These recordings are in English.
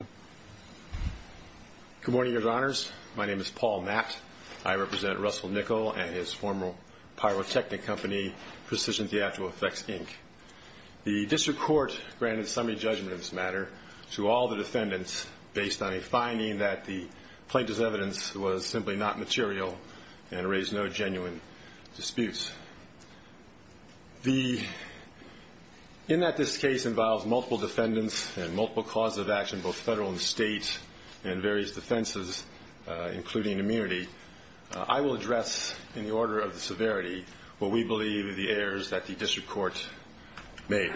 Good morning, Your Honors. My name is Paul Matt. I represent Russell Nickel and his former pyrotechnic company, Precision Theatrical Effects, Inc. The District Court granted summary judgments matter to all the defendants based on a finding that the plaintiff's evidence was simply not material and raised no genuine disputes. In that this case involves multiple defendants and multiple causes of action, both federal and state, and various defenses, including immunity, I will address, in the order of the severity, what we believe are the errors that the District Court made.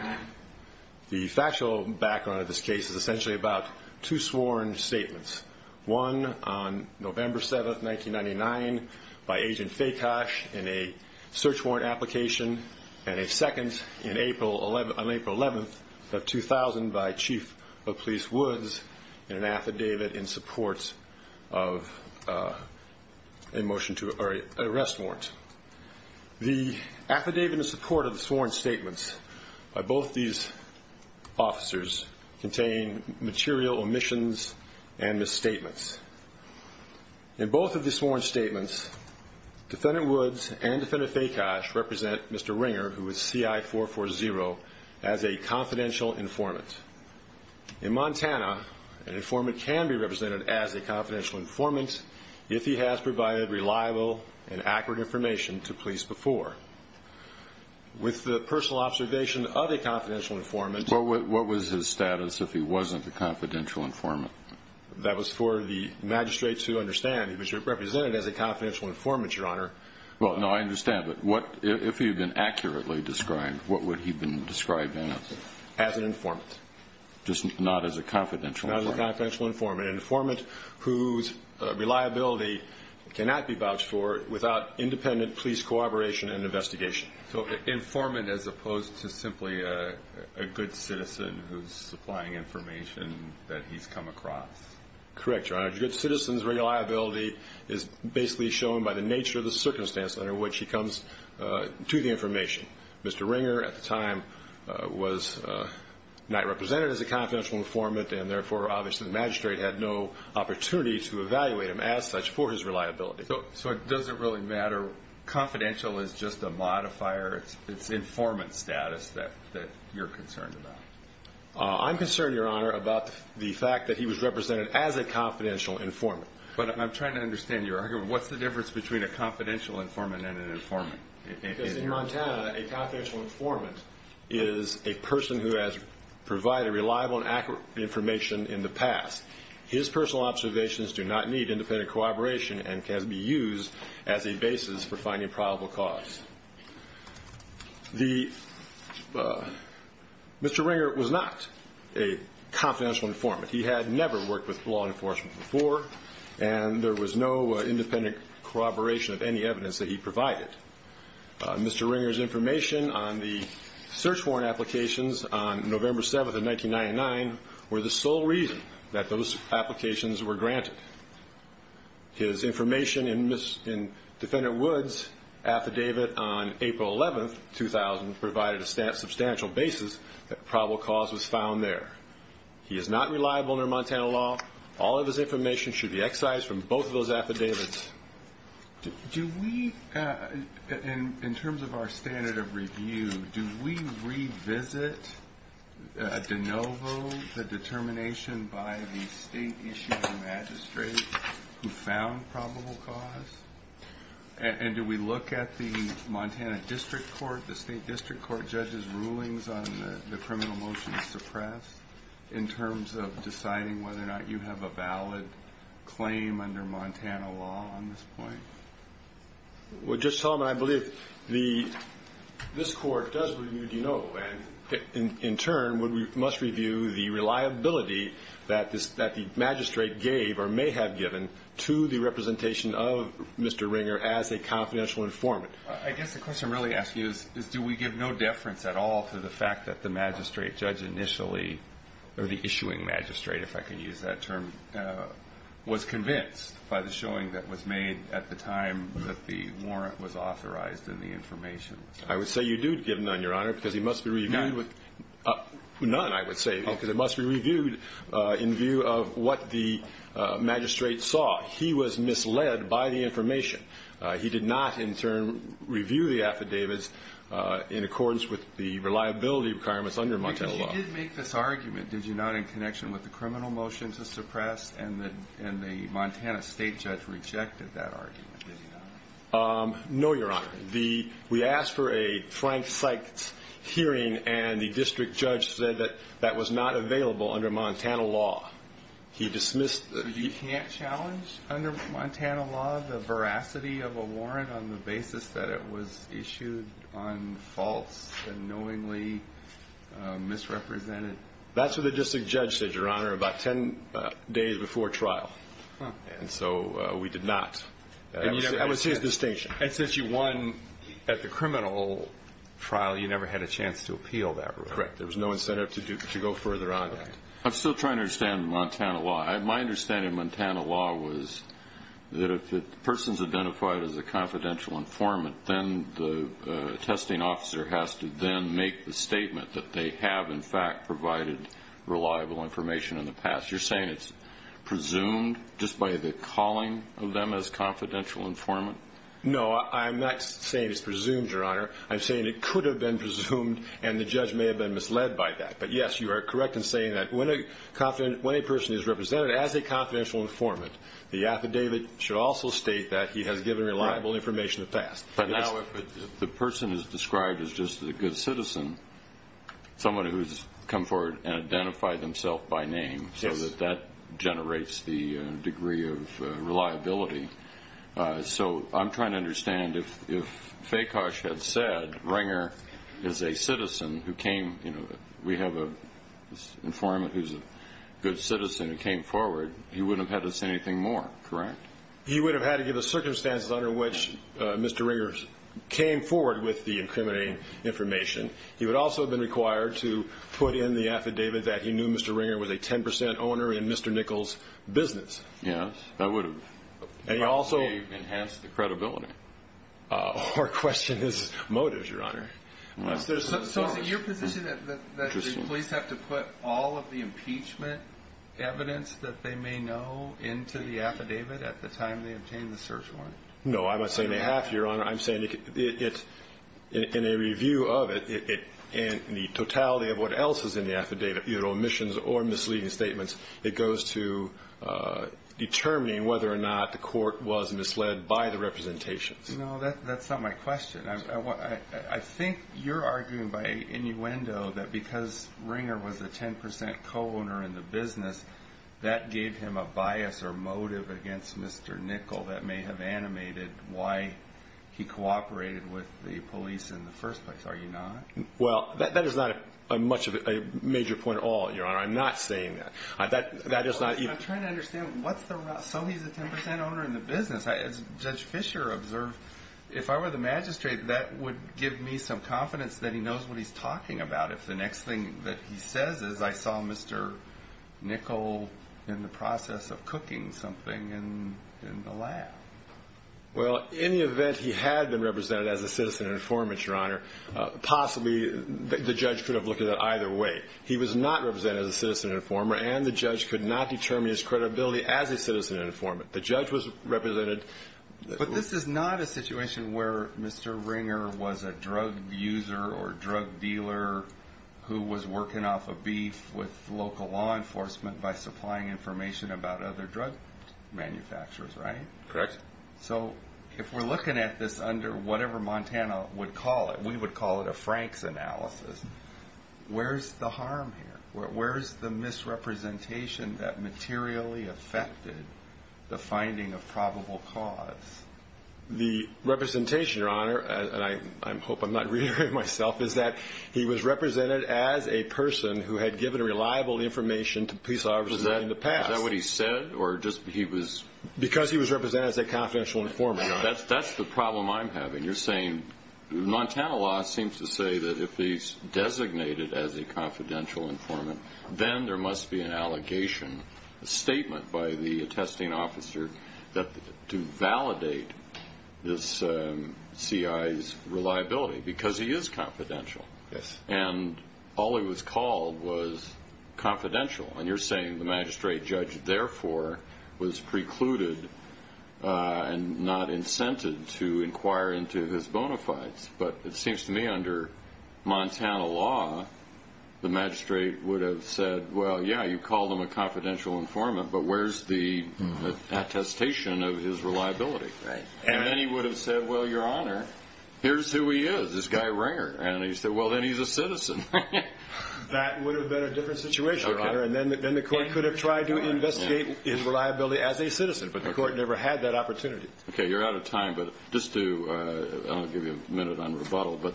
The factual background of this case is essentially about two sworn statements, one on November 7, 1999, by Agent Fakosh in a search warrant application, and a second on April 11, 2000, by Chief of Police Woods in an affidavit in support of an arrest warrant. The affidavit in support of the sworn statements by both these officers contain material omissions and misstatements. In both of the sworn statements, Defendant Woods and Defendant Fakosh represent Mr. Ringer, who is CI-440, as a confidential informant. In Montana, an informant can be represented as a confidential informant if he has provided reliable and accurate information to police before. With the personal observation of a confidential informant... What was his status if he wasn't a confidential informant? That was for the magistrate to understand. He was represented as a confidential informant, Your Honor. Well, no, I understand. But what, if he had been accurately described, what would he have been described as? As an informant. Just not as a confidential informant? Not as a confidential informant. An informant whose reliability cannot be vouched for without independent police cooperation and investigation. So, informant as opposed to simply a good citizen who's supplying information that he's come across? Correct, Your Honor. A good citizen's reliability is basically shown by the nature of the circumstance under which he comes to the information. Mr. Ringer, at the time, was not represented as a confidential informant, and therefore, obviously, the magistrate had no opportunity to evaluate him as such for his reliability. So, it doesn't really matter. Confidential is just a modifier. It's not an informant status that you're concerned about. I'm concerned, Your Honor, about the fact that he was represented as a confidential informant. But I'm trying to understand your argument. What's the difference between a confidential informant and an informant? Because in Montana, a confidential informant is a person who has provided reliable and accurate information in the past. His personal observations do not need independent cooperation and can be used as a basis for finding probable cause. Mr. Ringer was not a confidential informant. He had never worked with law enforcement before, and there was no independent corroboration of any evidence that he provided. Mr. Ringer's information on the search warrant applications on November 7th of 1999 were the sole reason that those applications were granted. His information in Defendant Woods' affidavit on April 11th, 2000, provided a substantial basis that probable cause was found there. He is not reliable under Montana law. All of his information should be excised from both of those affidavits. Do we, in terms of our standard of review, do we revisit de novo the determination by the state-issued magistrate who found probable cause? And do we look at the Montana District Court, the state district court judge's rulings on the criminal motion to suppress, in terms of deciding whether or not you have a valid claim under Montana law on this point? Well, Judge Solomon, I believe this court does review de novo, and in turn, we must review the reliability that the magistrate gave or may have given to the representation of Mr. Ringer as a confidential informant. I guess the question I'm really asking is do we give no deference at all to the fact that the magistrate judge initially, or the issuing magistrate, if I can use that term, was convinced by the showing that was made at the time that the warrant was authorized and the information was found? I would say you do give none, Your Honor, because it must be reviewed. None? None, I would say, because it must be reviewed in view of what the magistrate saw. He was misled by the information. He did not, in turn, review the affidavits in accordance with the reliability requirements under Montana law. But you did make this argument, did you not, in connection with the criminal motion to suppress, and the Montana state judge rejected that argument, did he not? No, Your Honor. We asked for a blank site hearing, and the district judge said that that was not available under Montana law. He dismissed the... So you can't challenge, under Montana law, the veracity of a warrant on the basis that it was issued on false and knowingly misrepresented... That's what the district judge said, Your Honor, about ten days before trial. And so we did not. That was his distinction. And since you won at the criminal trial, you never had a chance to appeal that ruling. Correct. There was no incentive to go further on that. I'm still trying to understand Montana law. My understanding of Montana law was that if the person's identified as a confidential informant, then the testing officer has to then make the statement that they have, in fact, provided reliable information in the past. You're saying it's presumed, just by the calling of them as confidential informant? No, I'm not saying it's presumed, Your Honor. I'm saying it could have been presumed, and the judge may have been misled by that. But yes, you are correct in saying that when a person is represented as a confidential informant, the affidavit should also state that he has given reliable information in the past. But now if the person is described as just a good citizen, someone who's come forward and identified themselves by name, so that that generates the degree of reliability. So I'm trying to understand, if Fekas had said, Ringer is a citizen who came, you know, we have an informant who's a good citizen who came forward, he wouldn't have had to say anything more, correct? He would have had to give the circumstances under which Mr. Ringer came forward with the incriminating information. He would also have been required to put in the affidavit that he knew Mr. Ringer was a 10 percent owner in Mr. Nichols' business. Yes, that would have enhanced the credibility. Our question is motives, Your Honor. So is it your position that the police have to put all of the impeachment evidence that they may know into the affidavit at the time they obtain the search warrant? No, I'm saying in a review of it, in the totality of what else is in the affidavit, either omissions or misleading statements, it goes to determining whether or not the court was misled by the representations. No, that's not my question. I think you're arguing by innuendo that because Ringer was a 10 percent co-owner in the business, that gave him a bias or motive against Mr. Nichol that may have animated why he cooperated with the police in the first place. Are you not? Well, that is not a major point at all, Your Honor. I'm not saying that. I'm trying to understand, so he's a 10 percent owner in the business. As Judge Fischer observed, if I were the magistrate, that would give me some confidence that he knows what he's talking about. If the next thing that he says is, I saw Mr. Nichol in the process of cooking something in the lab. Well, in the event he had been represented as a citizen informant, Your Honor, possibly the judge could have looked at it either way. He was not represented as a citizen informant and the judge could not determine his credibility as a citizen informant. The judge was represented. But this is not a situation where Mr. Ringer was a drug user or drug dealer who was working off of beef with local law enforcement by manufacturers, right? Correct. So if we're looking at this under whatever Montana would call it, we would call it a Frank's analysis. Where's the harm here? Where's the misrepresentation that materially affected the finding of probable cause? The representation, Your Honor, and I hope I'm not reiterating myself, is that he was represented as a person who had given reliable information to police officers in the past. Is that what he said? Because he was represented as a confidential informant. That's the problem I'm having. You're saying Montana law seems to say that if he's designated as a confidential informant, then there must be an allegation, a statement by the attesting officer to validate this C.I.'s reliability because he is confidential. Yes. And all he was called was confidential. And you're saying the magistrate judge therefore was precluded and not incented to inquire into his bonafides. But it seems to me under Montana law, the magistrate would have said, well, yeah, you called him a confidential informant, but where's the attestation of his reliability? Right. And then he would have said, well, Your Honor, here's who he is, this guy Ringer. And he said, well, then he's a citizen. That would have been a different situation, Your Honor. And then the court could have tried to investigate his reliability as a citizen, but the court never had that opportunity. Okay, you're out of time, but just to, I'll give you a minute on rebuttal, but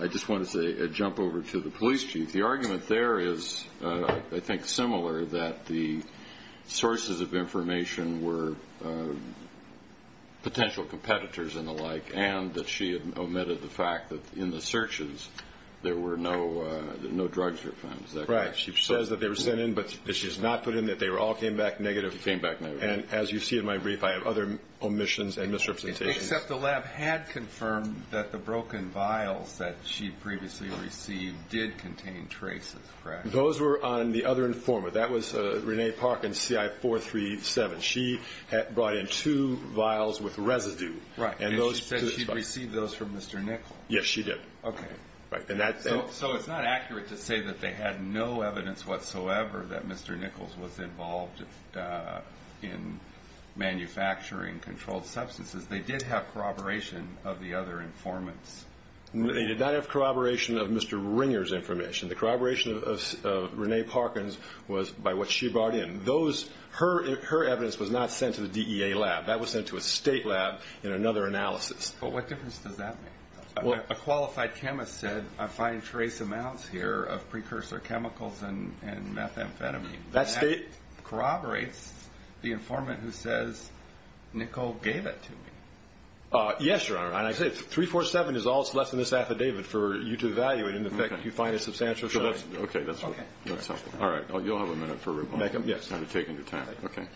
I just want to say, jump over to the police chief. The argument there is, I think, similar that the sources of information were potential competitors and the like, and that she had omitted the fact that in the searches, there were no drugs were found. Is that correct? Right. She says that they were sent in, but she does not put in that they all came back negative. They came back negative. And as you see in my brief, I have other omissions and misrepresentations. Except the lab had confirmed that the broken traces, correct? Those were on the other informant. That was Renee Parkin, CI-437. She had brought in two vials with residue. Right. And she said she'd received those from Mr. Nichols. Yes, she did. Okay. So it's not accurate to say that they had no evidence whatsoever that Mr. Nichols was involved in manufacturing controlled substances. They did have corroboration of the other informants. They did not have corroboration of Mr. Ringer's information. The corroboration of Renee Parkin's was by what she brought in. Her evidence was not sent to the DEA lab. That was sent to a state lab in another analysis. But what difference does that make? A qualified chemist said, I find trace amounts here of precursor chemicals and methamphetamine. That corroborates the informant who says, Nichols gave it to me. Yes, Your Honor. And I say, 347 is all that's left in this affidavit for you to evaluate in effect. Do you find it substantial? Sure. Okay. That's all right. You'll have a minute for rebuttal. Yes. I'm taking your time. Okay.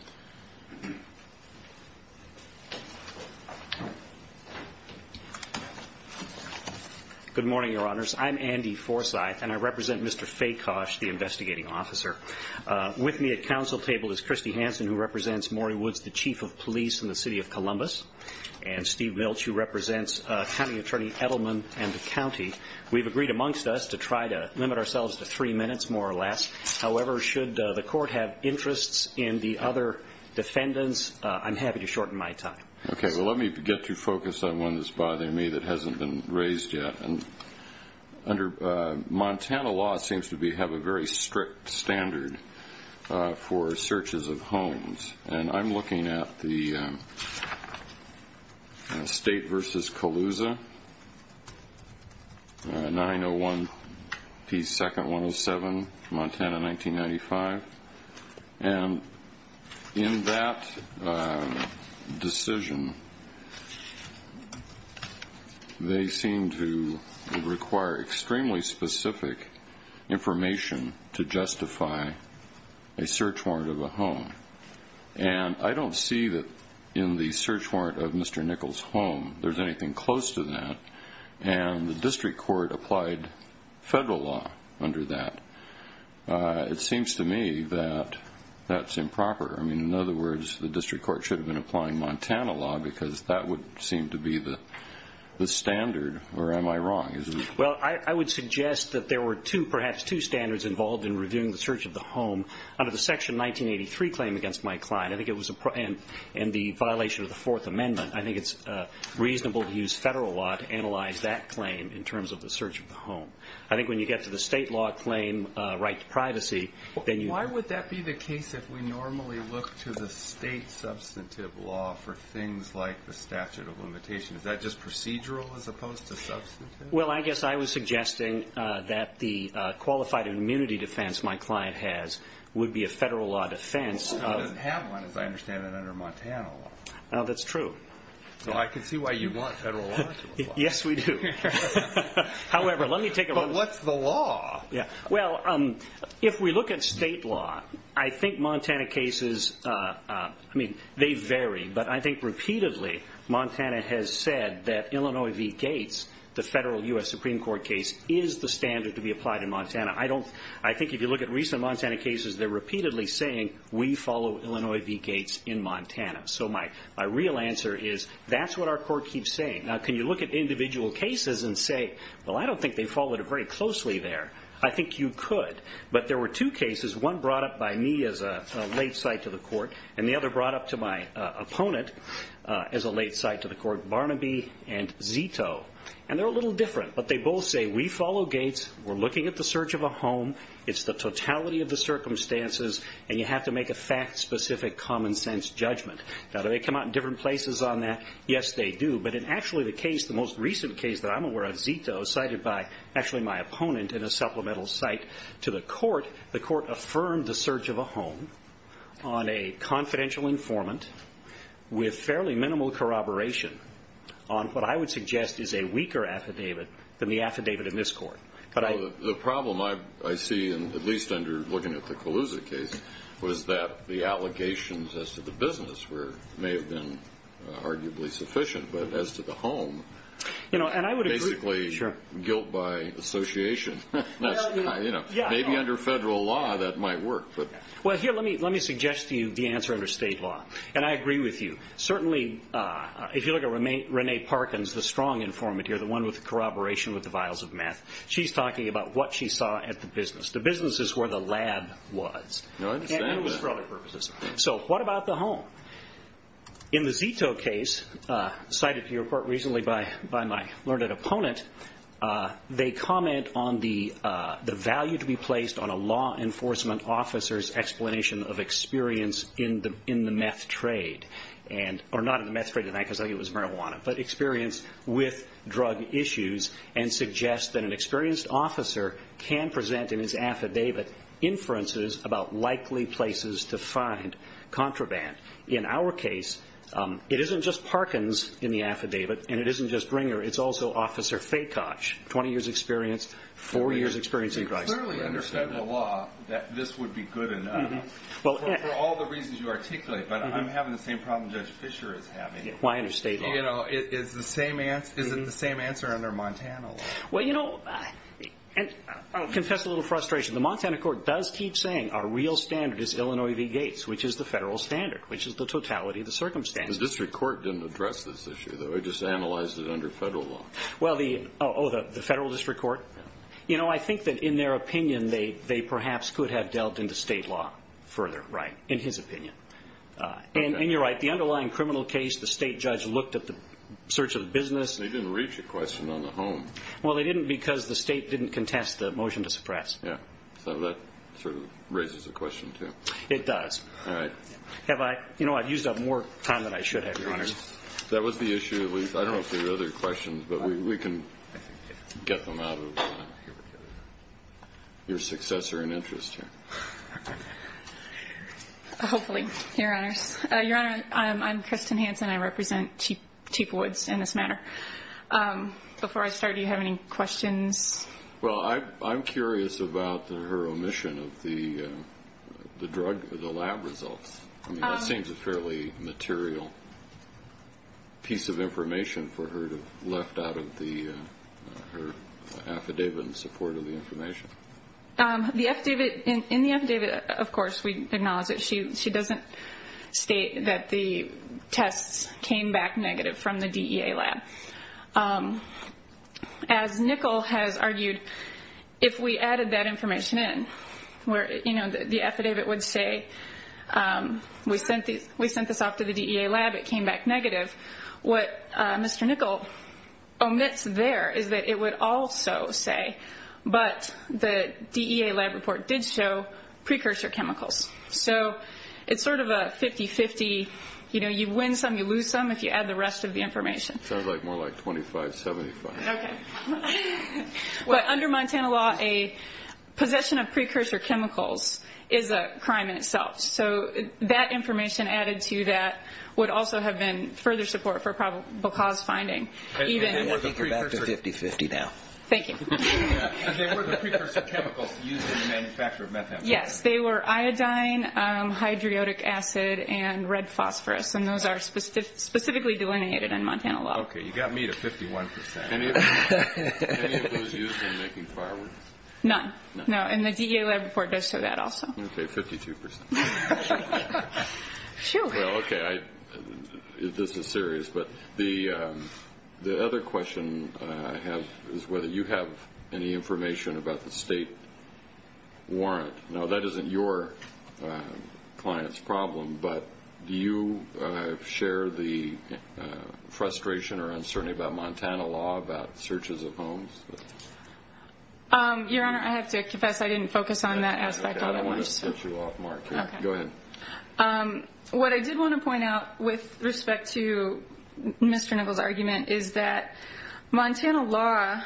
Good morning, Your Honors. I'm Andy Forsythe and I represent Mr. Facosh, the investigating officer. With me at council table is Kristi Hansen, who represents Maury Woods, the Chief of Police in the City of Columbus, and Steve Limit ourselves to three minutes, more or less. However, should the court have interests in the other defendants, I'm happy to shorten my time. Okay. Well, let me get to focus on one that's bothering me that hasn't been raised yet. And under Montana law, it seems to have a very strict standard for searches of homes. And I'm looking at the State v. Colusa, 901 P. 2nd, 107, Montana, 1995. And in that decision, they seem to require extremely specific information to justify a search warrant of a home. And I don't see that in the search warrant of federal law under that. It seems to me that that's improper. I mean, in other words, the district court should have been applying Montana law because that would seem to be the standard. Or am I wrong? Well, I would suggest that there were two, perhaps two, standards involved in reviewing the search of the home under the Section 1983 claim against Mike Klein. I think it was in the violation of the Fourth Amendment. I think it's reasonable to use the search of the home. I think when you get to the state law claim, right to privacy, then you... Why would that be the case if we normally look to the state substantive law for things like the statute of limitations? Is that just procedural as opposed to substantive? Well, I guess I was suggesting that the qualified immunity defense Mike Klein has would be a federal law defense of... He doesn't have one, as I understand it, under Montana law. No, that's true. So I can see why you want federal law to apply. Yes, we do. However, let me take a look... But what's the law? Well, if we look at state law, I think Montana cases, I mean, they vary, but I think repeatedly Montana has said that Illinois v. Gates, the federal U.S. Supreme Court case, is the standard to be applied in Montana. I think if you look at recent Montana cases, they're repeatedly saying we follow Illinois v. Gates in Montana. So my real answer is that's what our court keeps saying. Now, can you look at individual cases and say, well, I don't think they followed it very closely there. I think you could. But there were two cases, one brought up by me as a late sight to the court, and the other brought up to my opponent as a late sight to the court, Barnaby v. Zito. And they're a little different, but they both say we follow Gates, we're looking at the search of a home, it's the totality of the circumstances, and you have to make a fact-specific, common-sense judgment. Now, do they come out in different places on that? Yes, they do. But in actually the case, the most recent case that I'm aware of, Zito, cited by actually my opponent in a supplemental site to the court, the court affirmed the search of a home on a confidential informant with fairly minimal corroboration on what I would suggest is a weaker affidavit than the affidavit in this court. But I — Well, the problem I see, at least under looking at the Colusa case, was that the allegations as to the business were — may have been arguably sufficient, but as to the home, basically guilt by association. Maybe under federal law that might work, but — Well, here, let me suggest to you the answer under state law. And I agree with you. Certainly, if you look at Renee Parkins, the strong informant here, the one with the corroboration with the vials of meth, she's talking about what she saw at the business. The business is where the lab was. I understand that. Just for other purposes. So, what about the home? In the Zito case, cited to your court recently by my learned opponent, they comment on the value to be placed on a law enforcement officer's explanation of experience in the meth trade. And — or not in the meth trade in that, because I think it was marijuana. But experience with drug issues, and suggest that an experienced officer can present in his affidavit inferences about likely places to find contraband. In our case, it isn't just Parkins in the affidavit, and it isn't just Ringer. It's also Officer Fakoch, 20 years experience, 4 years experience in drugs. You clearly understand the law that this would be good enough for all the reasons you articulate. But I'm having the same problem Judge Fischer is having. Why under state law? You know, is the same answer — is it the same answer under Montana law? Well, you know — and I'll confess a little frustration. The Montana court does keep saying our real standard is Illinois v. Gates, which is the federal standard, which is the totality of the circumstances. The district court didn't address this issue, though. It just analyzed it under federal law. Well, the — oh, the federal district court? You know, I think that in their opinion, they perhaps could have delved into state law further, right, in his opinion. And you're right. The underlying criminal case, the state judge looked at the search of the business — They didn't reach a question on the home. Well, they didn't because the state didn't contest the motion to suppress. Yeah. So that sort of raises a question, too. It does. All right. Have I — you know, I've used up more time than I should have, Your Honors. That was the issue. I don't know if there are other questions, but we can get them out of your successor in interest here. Hopefully, Your Honors. Your Honor, I'm Kristen Hanson. I represent Chief Woods in this matter. Before I start, do you have any questions? Well, I'm curious about her omission of the drug — the lab results. I mean, that seems a fairly material piece of information for her to have left out of the — her affidavit in support of the information. The affidavit — in the affidavit, of course, we acknowledge that she doesn't state that the tests came back negative from the DEA lab. As Nickel has argued, if we added that information in where, you know, the affidavit would say we sent this off to the DEA lab, it came back negative, what Mr. Nickel omits there is that it would also say, but the DEA lab report did show precursor chemicals. So it's sort of a 50-50, you know, you win some, you lose some if you add the rest of the information. Sounds like more like 25-75. Okay. But under Montana law, a possession of precursor chemicals is a crime in itself. So that information added to that would also have been further support for probable cause finding. You're back to 50-50 now. Thank you. They were the precursor chemicals used in the manufacture of methamphetamine. Yes, they were iodine, hydroic acid, and red phosphorus. And those are specifically delineated in Montana law. Okay, you got me to 51 percent. Any of those used in making fireworks? None. No, and the DEA lab report does show that also. Okay, 52 percent. Well, okay, this is serious. But the other question I have is whether you have any information about the state warrant. Now, that isn't your client's problem, but do you share the frustration or uncertainty about Montana law, about searches of homes? Your Honor, I have to confess I didn't focus on that aspect. I don't want to set you off, Mark. Go ahead. What I did want to point out with respect to Mr. Nichols' argument is that Montana law,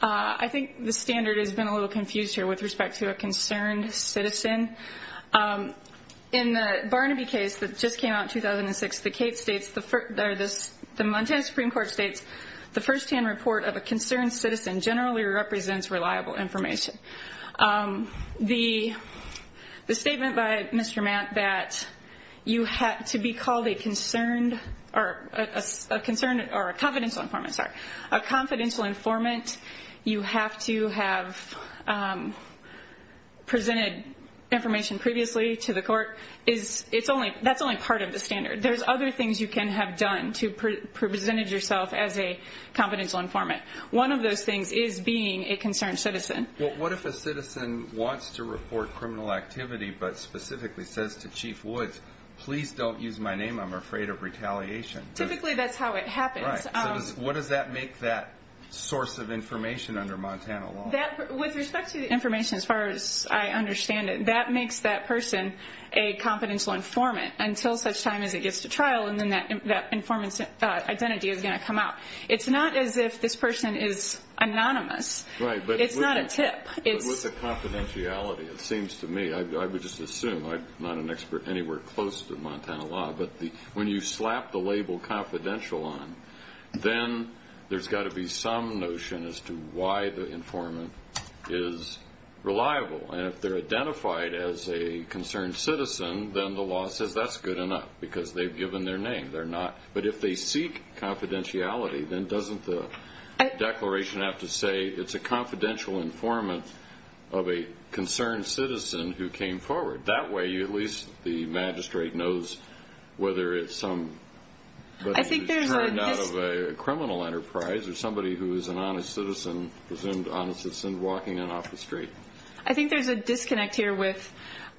I think the standard has been a little confused here with respect to a concerned citizen. In the Barnaby case that just came out in 2006, the case states, the Montana Supreme Court states, the firsthand report of a concerned citizen generally represents reliable information. The statement by Mr. Matt that you have to be called a concerned or a confidential informant, you have to have presented information previously to the court, that's only part of the standard. There's other things you can have done to have presented yourself as a confidential informant. One of those things is being a concerned citizen. What if a citizen wants to report criminal activity but specifically says to Chief Woods, please don't use my name, I'm afraid of retaliation? Typically, that's how it happens. What does that make that source of information under Montana law? With respect to the information as far as I understand it, that makes that person a confidential informant until such time as it gets to trial and then that informant's identity is going to come out. It's not as if this person is anonymous. It's not a tip. With the confidentiality, it seems to me, I would just assume, I'm not an expert anywhere close to Montana law, but when you slap the label confidential on, then there's got to be some notion as to why the informant is reliable. And if they're identified as a concerned citizen, then the law says that's good enough because they've given their name. They're not. But if they seek confidentiality, then doesn't the declaration have to say it's a confidential informant of a concerned citizen who came forward? That way, at least the magistrate knows whether it's turned out of a criminal enterprise or somebody who is an honest citizen walking in off the street. I think there's a disconnect here with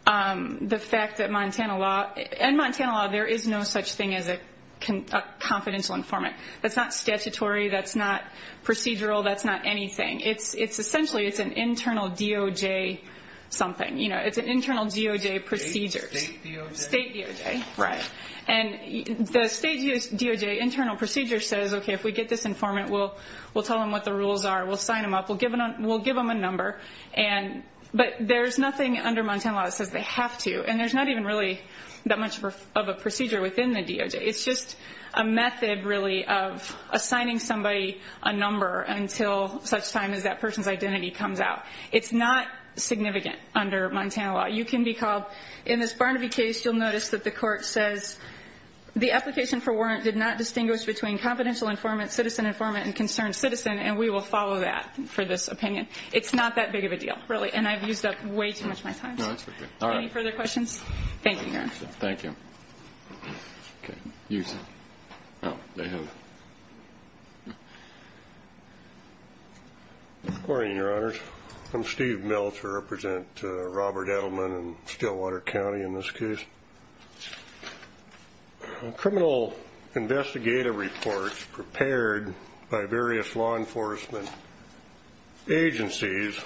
the fact that in Montana law, there is no such thing as a confidential informant. That's not statutory. That's not procedural. That's not anything. Essentially, it's an internal DOJ something. It's an internal DOJ procedure. State DOJ? State DOJ, right. And the state DOJ internal procedure says, okay, if we get this informant, we'll tell them what the rules are. We'll sign them up. We'll give them a number. But there's nothing under Montana law that says they have to, and there's not even really that much of a procedure within the DOJ. It's just a method, really, of assigning somebody a number until such time as that person's identity comes out. It's not significant under Montana law. You can be called. In this Barnaby case, you'll notice that the court says the application for warrant did not distinguish between confidential informant, citizen informant, and concerned citizen, and we will follow that for this opinion. It's not that big of a deal, really, and I've used up way too much of my time. Any further questions? Thank you, Your Honor. Thank you. Good morning, Your Honors. I'm Steve Mills. I represent Robert Edelman in Stillwater County in this case. Criminal investigative reports prepared by various law enforcement agencies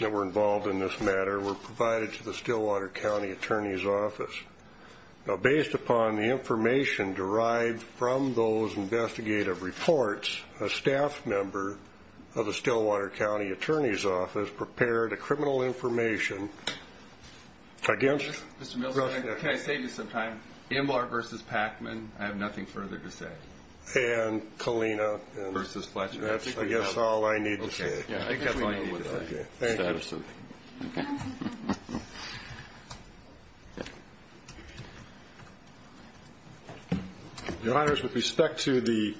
that were involved in this matter were provided to the Stillwater County Attorney's Office. Now, based upon the information derived from those investigative reports, a staff member of the Stillwater County Attorney's Office prepared a criminal information against. Mr. Mills, can I save you some time? Embar versus Packman, I have nothing further to say. And Kalina versus Fletcher. That's, I guess, all I need to say. Okay. Your Honors, with respect to the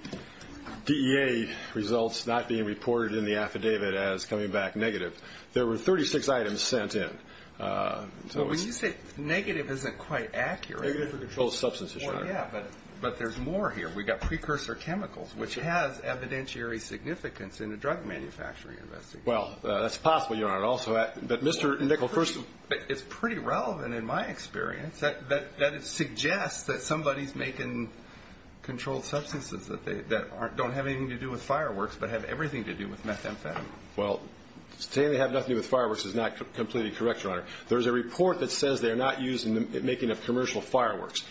DEA results not being reported in the affidavit as coming back negative, there were 36 items sent in. Well, when you say negative, it isn't quite accurate. Negative for controlled substances, Your Honor. Well, yeah, but there's more here. We've got precursor chemicals, which has evidentiary significance in a drug manufacturing investigation. Well, that's possible, Your Honor, also. But Mr. Nickel, first of all. It's pretty relevant in my experience that it suggests that somebody's making controlled substances that don't have anything to do with fireworks but have everything to do with methamphetamine. Well, saying they have nothing to do with fireworks is not completely correct, Your Honor. There's a report that says they're not used in the making of commercial fireworks.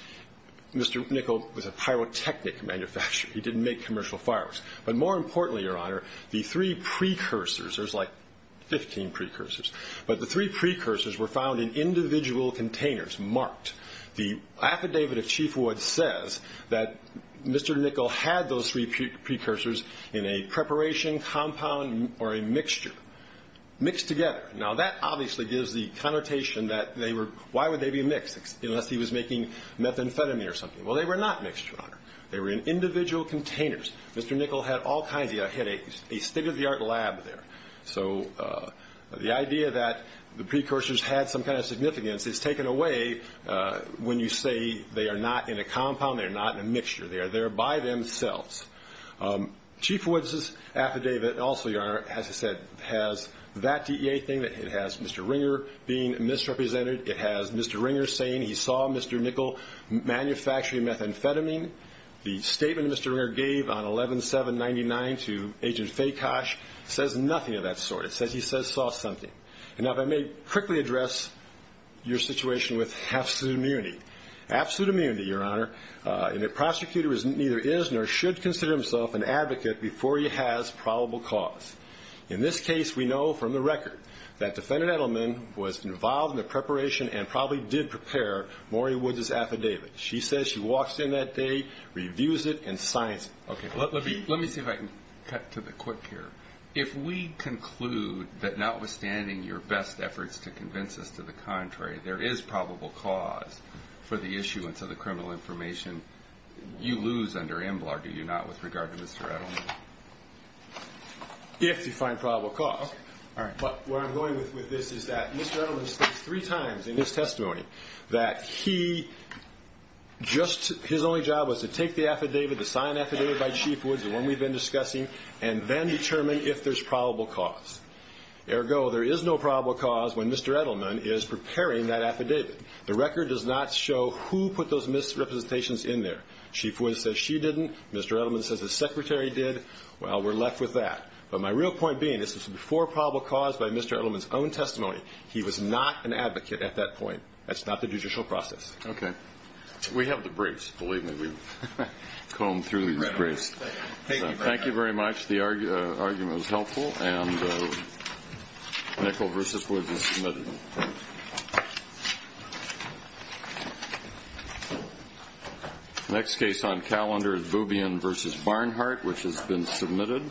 Mr. Nickel was a pyrotechnic manufacturer. He didn't make commercial fireworks. But more importantly, Your Honor, the three precursors, there's like 15 precursors, but the three precursors were found in individual containers, marked. The affidavit of Chief Wood says that Mr. Nickel had those three precursors in a preparation compound or a mixture, mixed together. Now, that obviously gives the connotation that they were why would they be mixed, unless he was making methamphetamine or something. Well, they were not mixed, Your Honor. They were in individual containers. Mr. Nickel had all kinds of headaches, a state-of-the-art lab there. So the idea that the precursors had some kind of significance is taken away when you say they are not in a compound, they are not in a mixture. They are there by themselves. Chief Wood's affidavit also, Your Honor, as I said, has that DEA thing. It has Mr. Ringer being misrepresented. It has Mr. Ringer saying he saw Mr. Nickel manufacturing methamphetamine. The statement Mr. Ringer gave on 11-7-99 to Agent Fakosh says nothing of that sort. It says he saw something. Now, if I may quickly address your situation with absolute immunity. Absolute immunity, Your Honor, a prosecutor neither is nor should consider himself an advocate before he has probable cause. In this case, we know from the record that defendant Edelman was involved in the preparation and probably did prepare Maury Wood's affidavit. She says she walks in that day, reviews it, and signs it. Okay. Let me see if I can cut to the quick here. If we conclude that notwithstanding your best efforts to convince us to the contrary, there is probable cause for the issuance of the criminal information, you lose under EMBLAR, do you not, with regard to Mr. Edelman? If you find probable cause. All right. But where I'm going with this is that Mr. Edelman states three times in his testimony that he just his only job was to take the affidavit, the signed affidavit by Chief Woods, the one we've been discussing, and then determine if there's probable cause. Ergo, there is no probable cause when Mr. Edelman is preparing that affidavit. The record does not show who put those misrepresentations in there. Chief Woods says she didn't. Mr. Edelman says the secretary did. Well, we're left with that. But my real point being, this was before probable cause by Mr. Edelman's own testimony. He was not an advocate at that point. That's not the judicial process. Okay. We have the briefs. Believe me, we've combed through these briefs. Thank you very much. The argument was helpful. And Nickel v. Woods is submitted. The next case on calendar is Boubian v. Barnhart, which has been submitted.